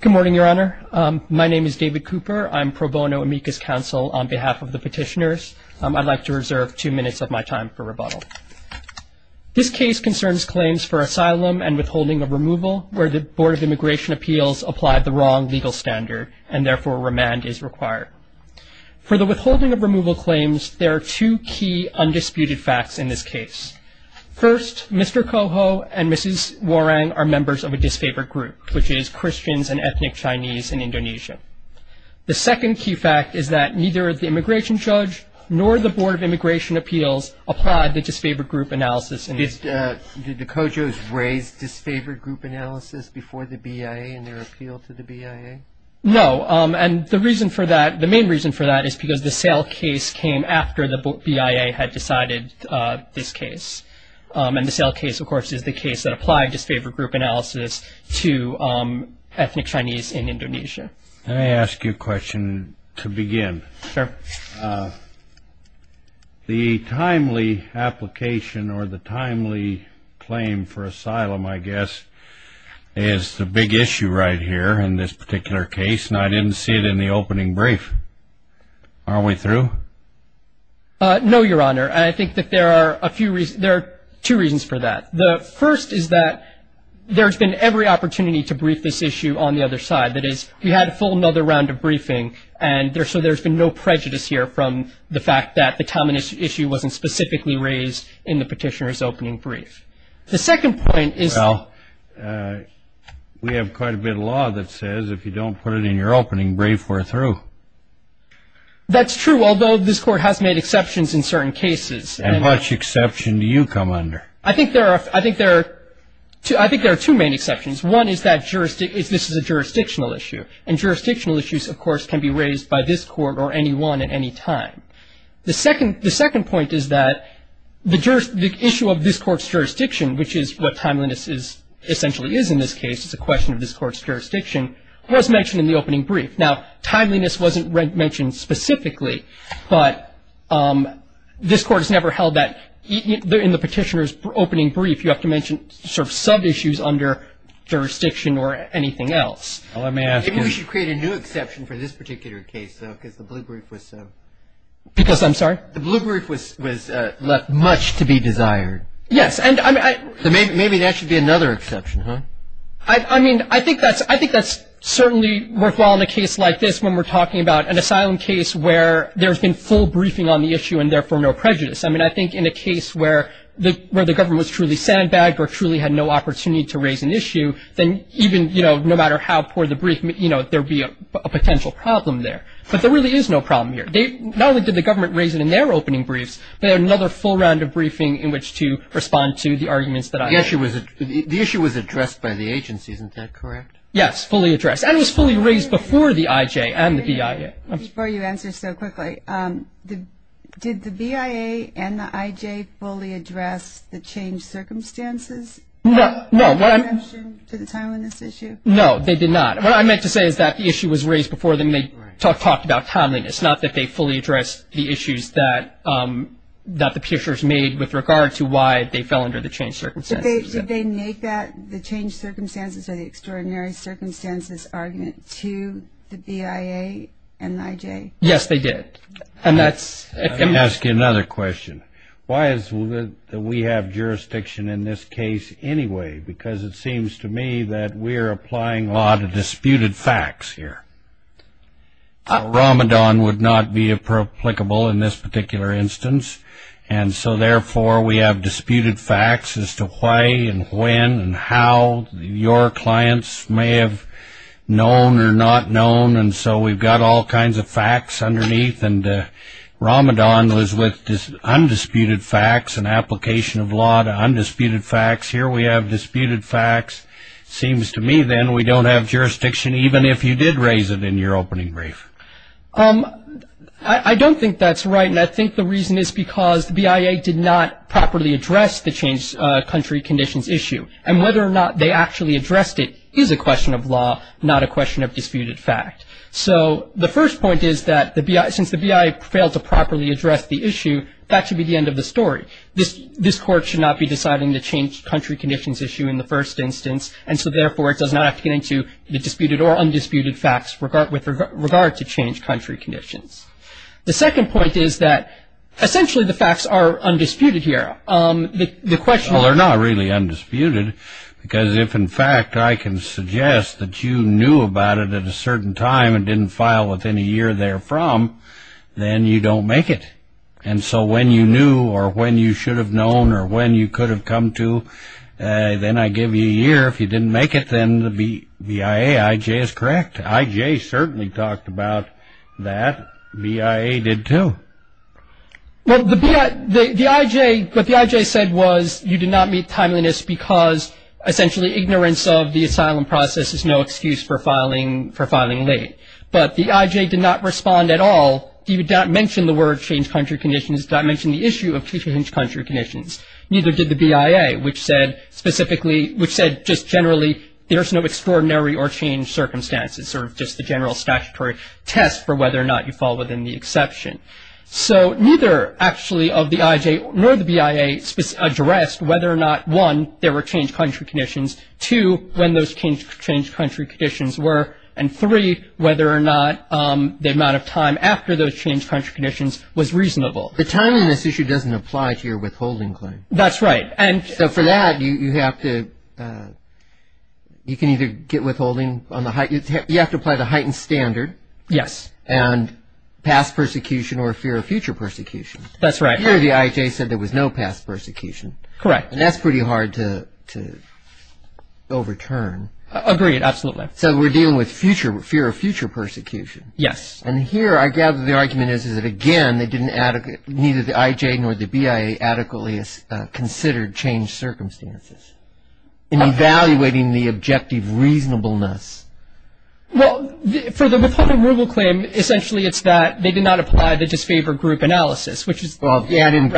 Good morning, Your Honor. My name is David Cooper. I'm pro bono amicus counsel on behalf of the petitioners. I'd like to reserve two minutes of my time for rebuttal. This case concerns claims for asylum and withholding of removal where the Board of Immigration Appeals applied the wrong legal standard and therefore remand is required. For the withholding of removal claims, there are two key undisputed facts in this case. First, Mr. Kojo and Mrs. Warang are members of a disfavored group, which is Christians and ethnic Chinese in Indonesia. The second key fact is that neither the immigration judge nor the Board of Immigration Appeals applied the disfavored group analysis in this case. Did the Kojos raise disfavored group analysis before the BIA in their appeal to the BIA? No, and the reason for that, the main reason for that is because the sale case came after the BIA had decided this case. And the sale case, of course, is the case that applied disfavored group analysis to ethnic Chinese in Indonesia. Let me ask you a question to begin. Sure. The timely application or the timely claim for asylum, I guess, is the big issue right here in this particular case, and I didn't see it in the opening brief. Are we through? No, Your Honor. I think that there are a few reasons, there are two reasons for that. The first is that there's been every opportunity to brief this issue on the other side. That is, we had a full another round of briefing, and so there's been no prejudice here from the fact that the timing issue wasn't specifically raised in the petitioner's opening brief. The second point is that we have quite a bit of law that says if you don't put it in your opening brief, we're through. That's true, although this Court has made exceptions in certain cases. And what exception do you come under? I think there are two main exceptions. One is that this is a jurisdictional issue, and jurisdictional issues, of course, can be raised by this Court or any one at any time. The second point is that the issue of this Court's jurisdiction, which is what timeliness essentially is in this case, it's a question of this Court's jurisdiction, was mentioned in the opening brief. Now, timeliness wasn't mentioned specifically, but this Court has never held that. In the petitioner's opening brief, you have to mention sort of sub-issues under jurisdiction or anything else. Let me ask you. Maybe we should create a new exception for this particular case, though, because the blue brief was subbed. Because, I'm sorry? The blue brief was left much to be desired. Yes. Maybe that should be another exception, huh? I mean, I think that's certainly worthwhile in a case like this when we're talking about an asylum case where there's been full briefing on the issue and, therefore, no prejudice. I mean, I think in a case where the government was truly sandbagged or truly had no opportunity to raise an issue, then even, you know, no matter how poor the brief, you know, there would be a potential problem there. But there really is no problem here. Not only did the government raise it in their opening briefs, but they had another full round of briefing in which to respond to the arguments that I made. The issue was addressed by the agency. Isn't that correct? Yes, fully addressed. And it was fully raised before the IJ and the BIA. Before you answer so quickly, did the BIA and the IJ fully address the changed circumstances? No. Did they mention the timeliness issue? No, they did not. What I meant to say is that the issue was raised before them. They talked about timeliness. It's not that they fully addressed the issues that the Pearsons made with regard to why they fell under the changed circumstances. Did they make that the changed circumstances or the extraordinary circumstances argument to the BIA and the IJ? Yes, they did. Let me ask you another question. Why is it that we have jurisdiction in this case anyway? Because it seems to me that we're applying law to disputed facts here. Ramadan would not be applicable in this particular instance. And so, therefore, we have disputed facts as to why and when and how your clients may have known or not known. And so we've got all kinds of facts underneath. And Ramadan was with undisputed facts and application of law to undisputed facts. Here we have disputed facts. It seems to me, then, we don't have jurisdiction even if you did raise it in your opening brief. I don't think that's right. And I think the reason is because the BIA did not properly address the changed country conditions issue. And whether or not they actually addressed it is a question of law, not a question of disputed fact. So the first point is that since the BIA failed to properly address the issue, that should be the end of the story. This court should not be deciding the changed country conditions issue in the first instance. And so, therefore, it does not appear to the disputed or undisputed facts with regard to changed country conditions. The second point is that essentially the facts are undisputed here. The question is… Well, they're not really undisputed because if, in fact, I can suggest that you knew about it at a certain time and didn't file within a year therefrom, then you don't make it. And so when you knew or when you should have known or when you could have come to, then I give you a year. If you didn't make it, then the BIA, IJ is correct. IJ certainly talked about that. BIA did, too. Well, the IJ, what the IJ said was you did not meet timeliness because, essentially, ignorance of the asylum process is no excuse for filing late. But the IJ did not respond at all. It did not mention the word changed country conditions. It did not mention the issue of changed country conditions. Neither did the BIA, which said specifically, which said just generally, there's no extraordinary or changed circumstances, sort of just the general statutory test for whether or not you fall within the exception. So neither, actually, of the IJ nor the BIA addressed whether or not, one, there were changed country conditions, two, when those changed country conditions were, and three, whether or not the amount of time after those changed country conditions was reasonable. The timeliness issue doesn't apply to your withholding claim. That's right. So for that, you have to, you can either get withholding on the, you have to apply the heightened standard. Yes. And past persecution or fear of future persecution. That's right. Here, the IJ said there was no past persecution. Correct. And that's pretty hard to overturn. Agreed. Absolutely. So we're dealing with future, fear of future persecution. Yes. And here, I gather the argument is that, again, they didn't adequately, neither the IJ nor the BIA adequately considered changed circumstances. In evaluating the objective reasonableness. Well, for the withholding rule claim, essentially it's that they did not apply the disfavored group analysis, which is. Well, yeah, I didn't.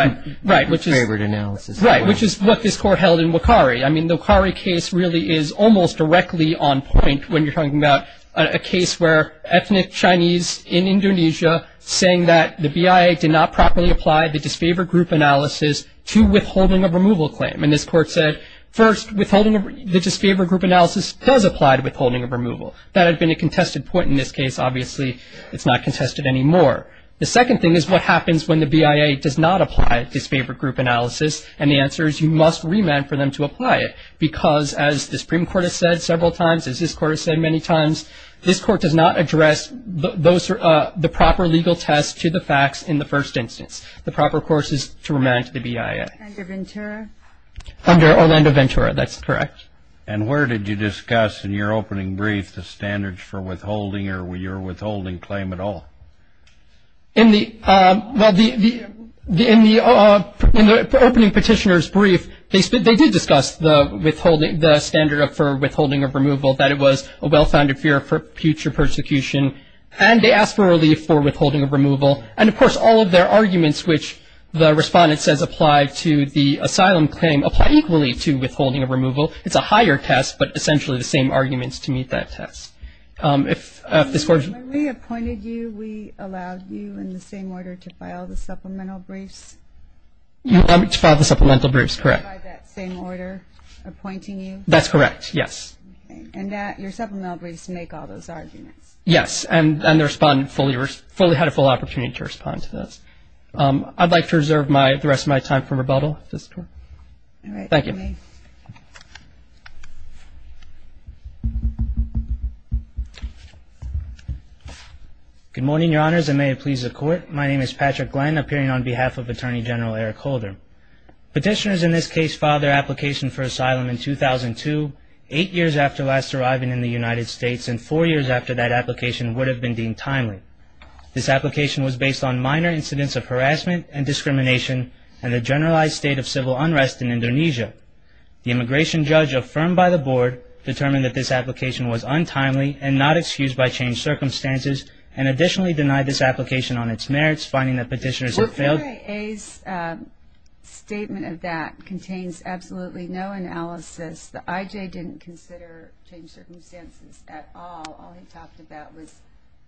Right. Disfavored analysis. Right, which is what this Court held in Wakari. I mean, the Wakari case really is almost directly on point when you're talking about a case where ethnic Chinese in Indonesia saying that the BIA did not properly apply the disfavored group analysis to withholding of removal claim. And this Court said, first, withholding, the disfavored group analysis does apply to withholding of removal. That had been a contested point in this case. Obviously, it's not contested anymore. The second thing is what happens when the BIA does not apply disfavored group analysis. And the answer is you must remand for them to apply it because, as the Supreme Court has said several times, as this Court has said many times, this Court does not address the proper legal test to the facts in the first instance. The proper course is to remand to the BIA. Under Ventura? Under Orlando Ventura. That's correct. And where did you discuss in your opening brief the standards for withholding or your withholding claim at all? In the opening petitioner's brief, they did discuss the withholding, the standard for withholding of removal, that it was a well-founded fear for future persecution. And they asked for relief for withholding of removal. And, of course, all of their arguments, which the Respondent says apply to the asylum claim, apply equally to withholding of removal. It's a higher test, but essentially the same arguments to meet that test. When we appointed you, we allowed you in the same order to file the supplemental briefs? You allowed me to file the supplemental briefs, correct. By that same order appointing you? That's correct, yes. And your supplemental briefs make all those arguments? Yes, and the Respondent had a full opportunity to respond to those. I'd like to reserve the rest of my time for rebuttal. All right. Thank you. Good morning, Your Honors, and may it please the Court. My name is Patrick Glenn, appearing on behalf of Attorney General Eric Holder. Petitioners in this case filed their application for asylum in 2002, eight years after last arriving in the United States, and four years after that application would have been deemed timely. This application was based on minor incidents of harassment and discrimination and the generalized state of civil unrest in Indonesia. The immigration judge affirmed by the Board, determined that this application was untimely and not excused by changed circumstances, and additionally denied this application on its merits, finding that petitioners had failed. The BIA's statement of that contains absolutely no analysis. The IJ didn't consider changed circumstances at all. All he talked about was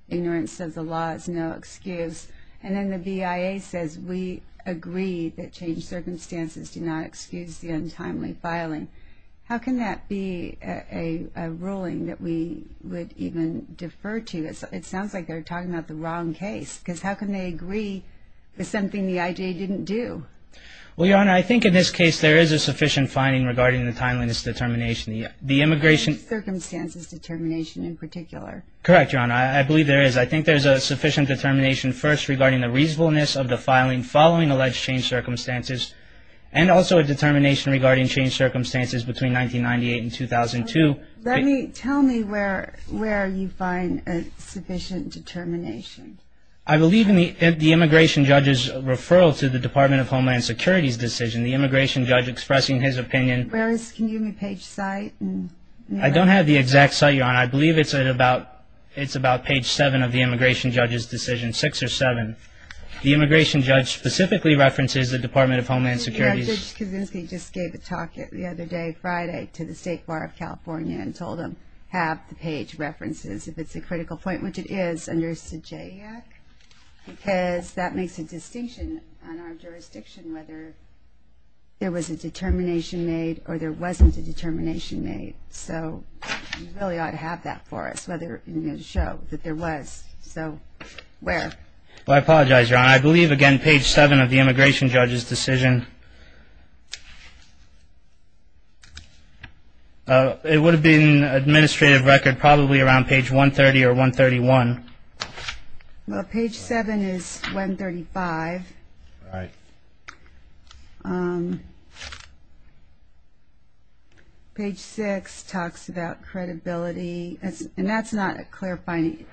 ignorance of the law is no excuse. And then the BIA says we agree that changed circumstances do not excuse the untimely filing. How can that be a ruling that we would even defer to? It sounds like they're talking about the wrong case, because how can they agree with something the IJ didn't do? Well, Your Honor, I think in this case there is a sufficient finding regarding the timeliness determination. The immigration- Changed circumstances determination in particular. Correct, Your Honor. I believe there is. I think there's a sufficient determination first regarding the reasonableness of the filing following alleged changed circumstances, and also a determination regarding changed circumstances between 1998 and 2002. Tell me where you find a sufficient determination. I believe in the immigration judge's referral to the Department of Homeland Security's decision. The immigration judge expressing his opinion- Can you give me page site? I don't have the exact site, Your Honor. I believe it's about page 7 of the immigration judge's decision, 6 or 7. The immigration judge specifically references the Department of Homeland Security's- Judge Kuczynski just gave a talk the other day, Friday, to the State Bar of California and told them, have the page references, if it's a critical point, which it is, under CJAC, because that makes a distinction on our jurisdiction whether there was a determination made or there wasn't a determination made. So you really ought to have that for us, whether you're going to show that there was. So where? I apologize, Your Honor. I believe, again, page 7 of the immigration judge's decision. It would have been administrative record probably around page 130 or 131. Well, page 7 is 135. All right. Page 6 talks about credibility, and that's not clarifying.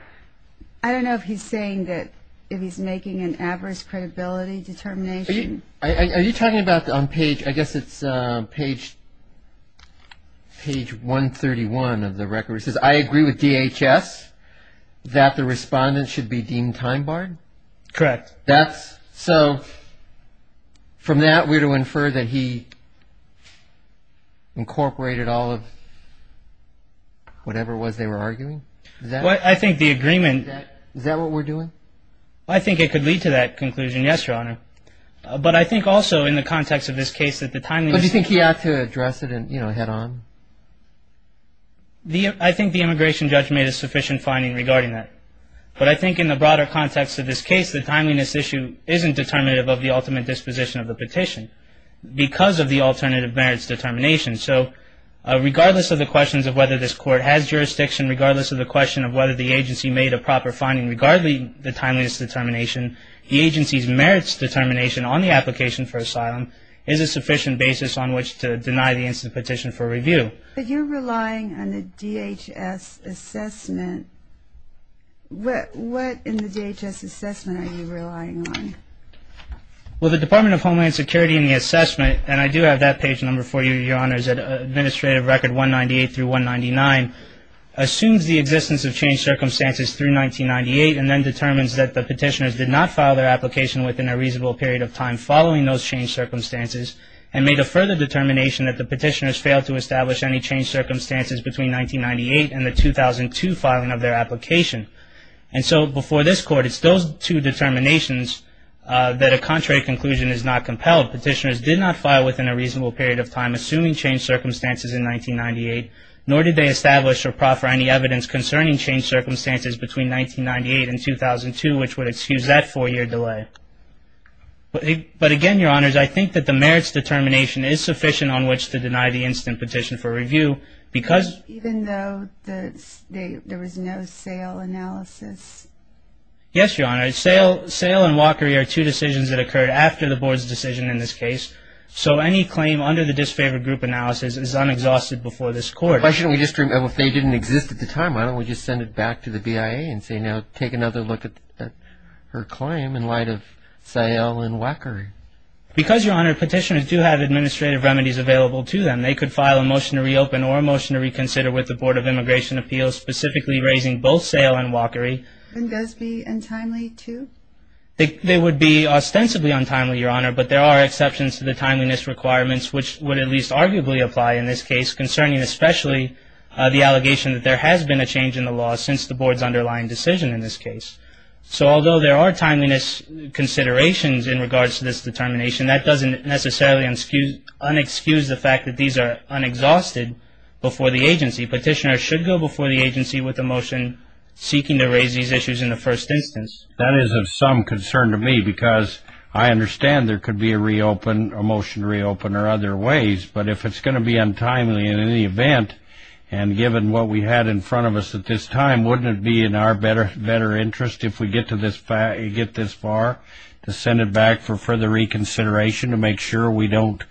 I don't know if he's saying that if he's making an adverse credibility determination. Are you talking about on page, I guess it's page 131 of the record, where it says, I agree with DHS that the respondent should be deemed time barred? Correct. So from that, we're to infer that he incorporated all of whatever it was they were arguing? I think the agreement. Is that what we're doing? I think it could lead to that conclusion, yes, Your Honor. But I think also in the context of this case that the timeliness... But do you think he ought to address it head on? I think the immigration judge made a sufficient finding regarding that. But I think in the broader context of this case, the timeliness issue isn't determinative of the ultimate disposition of the petition because of the alternative merits determination. So regardless of the questions of whether this court has jurisdiction, regardless of the question of whether the agency made a proper finding, regardless of the timeliness determination, the agency's merits determination on the application for asylum is a sufficient basis on which to deny the instant petition for review. But you're relying on the DHS assessment. What in the DHS assessment are you relying on? Well, the Department of Homeland Security in the assessment, and I do have that page number for you, Your Honors, Administrative Record 198 through 199, assumes the existence of changed circumstances through 1998 and then determines that the petitioners did not file their application within a reasonable period of time following those changed circumstances and made a further determination that the petitioners failed to establish any changed circumstances between 1998 and the 2002 filing of their application. And so before this Court, it's those two determinations that a contrary conclusion is not compelled. Petitioners did not file within a reasonable period of time assuming changed circumstances in 1998, nor did they establish or proffer any evidence concerning changed circumstances between 1998 and 2002, which would excuse that four-year delay. But again, Your Honors, I think that the merits determination is sufficient on which to deny the instant petition for review because Even though there was no sale analysis? Yes, Your Honor. Sale and walkery are two decisions that occurred after the Board's decision in this case. So any claim under the disfavored group analysis is unexhausted before this Court. Why shouldn't we just, if they didn't exist at the time, why don't we just send it back to the BIA and say, you know, take another look at her claim in light of sale and walkery? Because, Your Honor, petitioners do have administrative remedies available to them. They could file a motion to reopen or a motion to reconsider with the Board of Immigration Appeals, specifically raising both sale and walkery. And those be untimely too? They would be ostensibly untimely, Your Honor, but there are exceptions to the timeliness requirements, which would at least arguably apply in this case, concerning especially the allegation that there has been a change in the law since the Board's underlying decision in this case. So although there are timeliness considerations in regards to this determination, that doesn't necessarily unexcuse the fact that these are unexhausted before the agency. Petitioners should go before the agency with a motion seeking to raise these issues in the first instance. That is of some concern to me because I understand there could be a reopen, a motion to reopen or other ways, but if it's going to be untimely in any event, and given what we had in front of us at this time, wouldn't it be in our better interest if we get this far to send it back for further reconsideration to make sure we don't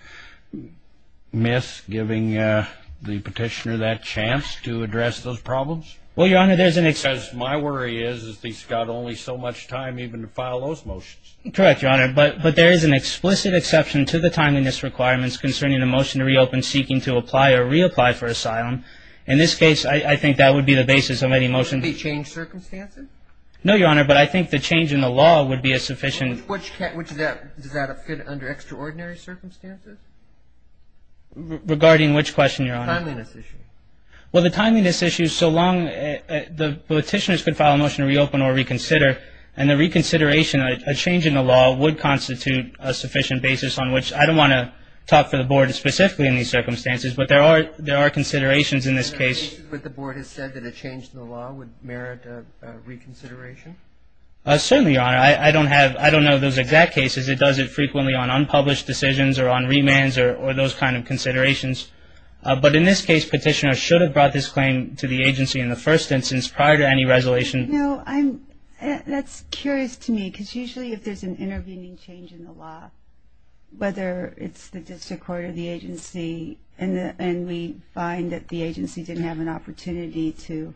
miss giving the petitioner that chance to address those problems? Well, Your Honor, there's an exception. My worry is that he's got only so much time even to file those motions. Correct, Your Honor, but there is an explicit exception to the timeliness requirements concerning a motion to reopen seeking to apply or reapply for asylum. In this case, I think that would be the basis of any motion. Would it change circumstances? No, Your Honor, but I think the change in the law would be a sufficient. Does that fit under extraordinary circumstances? Regarding which question, Your Honor? The timeliness issue. Well, the timeliness issue, so long the petitioners could file a motion to reopen or reconsider, and the reconsideration, a change in the law, would constitute a sufficient basis on which I don't want to talk for the Board specifically in these circumstances, but there are considerations in this case. But the Board has said that a change in the law would merit a reconsideration? Certainly, Your Honor. I don't know those exact cases. It does it frequently on unpublished decisions or on remands or those kind of considerations. But in this case, petitioners should have brought this claim to the agency in the first instance prior to any resolution. That's curious to me because usually if there's an intervening change in the law, whether it's the district court or the agency, and we find that the agency didn't have an opportunity to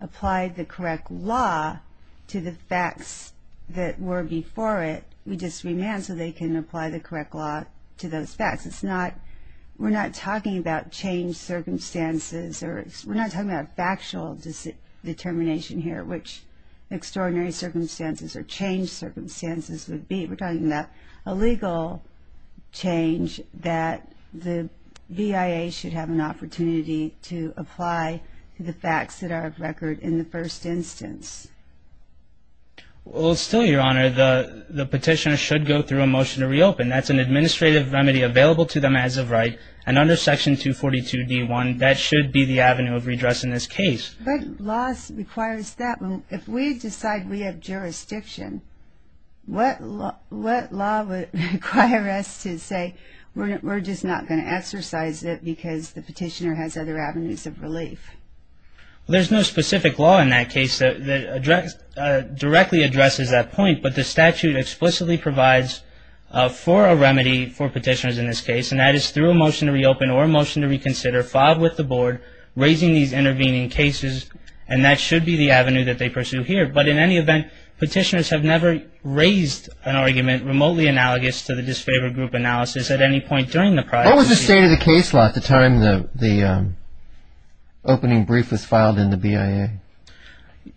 apply the correct law to the facts that were before it, we just remand so they can apply the correct law to those facts. We're not talking about changed circumstances, or we're not talking about factual determination here, which extraordinary circumstances or changed circumstances would be. We're talking about a legal change that the BIA should have an opportunity to apply to the facts that are of record in the first instance. Well, still, Your Honor, the petitioner should go through a motion to reopen. That's an administrative remedy available to them as of right, and under Section 242 D.1, that should be the avenue of redress in this case. But laws require that. If we decide we have jurisdiction, what law would require us to say, we're just not going to exercise it because the petitioner has other avenues of relief? There's no specific law in that case that directly addresses that point, but the statute explicitly provides for a remedy for petitioners in this case, and that is through a motion to reopen or a motion to reconsider, filed with the board, raising these intervening cases, and that should be the avenue that they pursue here. But in any event, petitioners have never raised an argument remotely analogous to the disfavored group analysis at any point during the prior review. What was the state of the case law at the time the opening brief was filed in the BIA?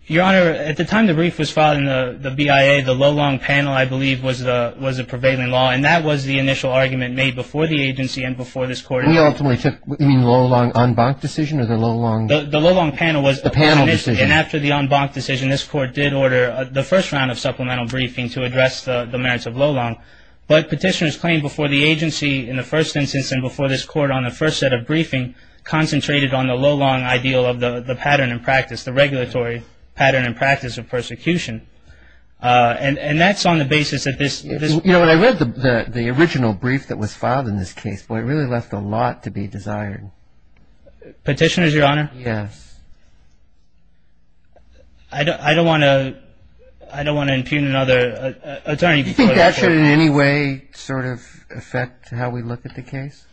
Your Honor, at the time the brief was filed in the BIA, the low-long panel, I believe, was the prevailing law, and that was the initial argument made before the agency and before this Court. You mean the low-long en banc decision or the low-long? The low-long panel was. The panel decision. And after the en banc decision, this Court did order the first round of supplemental briefing to address the merits of low-long. But petitioners claimed before the agency in the first instance and before this Court on the first set of briefing concentrated on the low-long ideal of the pattern and practice, the regulatory pattern and practice of persecution. And that's on the basis that this. You know, when I read the original brief that was filed in this case, it really left a lot to be desired. Petitioners, Your Honor? Yes. I don't want to impugn another attorney. Do you think that should in any way sort of affect how we look at the case?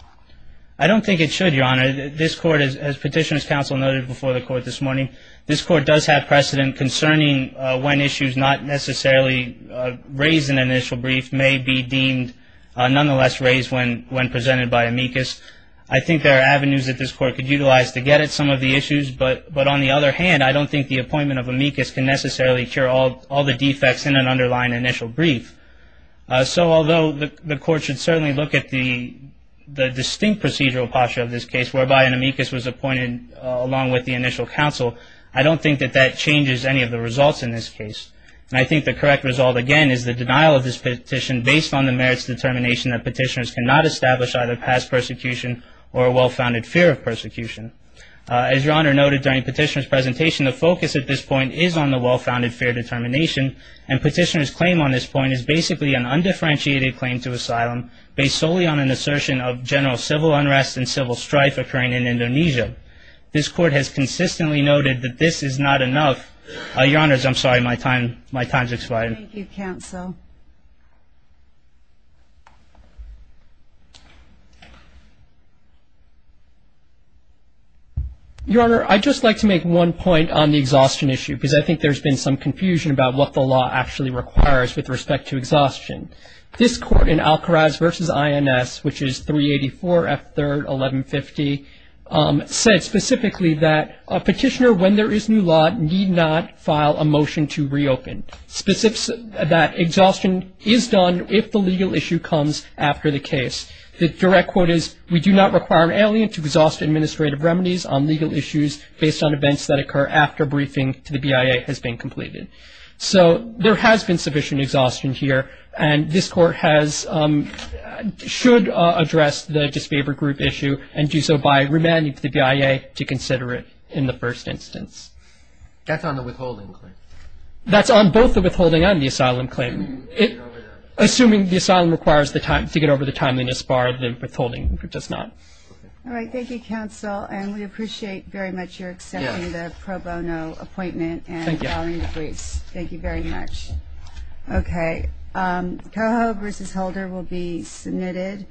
I don't think it should, Your Honor. This Court, as Petitioners' Counsel noted before the Court this morning, this Court does have precedent concerning when issues not necessarily raised in an initial brief may be deemed nonetheless raised when presented by amicus. I think there are avenues that this Court could utilize to get at some of the issues. But on the other hand, I don't think the appointment of amicus can necessarily cure all the defects in an underlying initial brief. So although the Court should certainly look at the distinct procedural posture of this case, whereby an amicus was appointed along with the initial counsel, I don't think that that changes any of the results in this case. And I think the correct result, again, is the denial of this petition based on the merits determination that petitioners cannot establish either past persecution or a well-founded fear of persecution. As Your Honor noted during Petitioner's presentation, the focus at this point is on the well-founded fear determination, and Petitioner's claim on this point is basically an undifferentiated claim to asylum based solely on an assertion of and civil strife occurring in Indonesia. This Court has consistently noted that this is not enough. Your Honors, I'm sorry, my time's expired. Thank you, counsel. Your Honor, I'd just like to make one point on the exhaustion issue, because I think there's been some confusion about what the law actually requires with respect to exhaustion. This Court in Al-Kharaz v. INS, which is 384 F. 3rd, 1150, said specifically that a petitioner, when there is new law, need not file a motion to reopen. Specifics that exhaustion is done if the legal issue comes after the case. The direct quote is, we do not require an alien to exhaust administrative remedies on legal issues based on events that occur after briefing to the BIA has been completed. So there has been sufficient exhaustion here, and this Court should address the disfavored group issue and do so by remanding to the BIA to consider it in the first instance. That's on the withholding claim. That's on both the withholding and the asylum claim. Assuming the asylum requires to get over the timeliness bar, the withholding does not. All right. Thank you, counsel, and we appreciate very much your accepting the pro bono appointment and following the briefs. Thank you very much. Okay. Coho v. Holder will be submitted.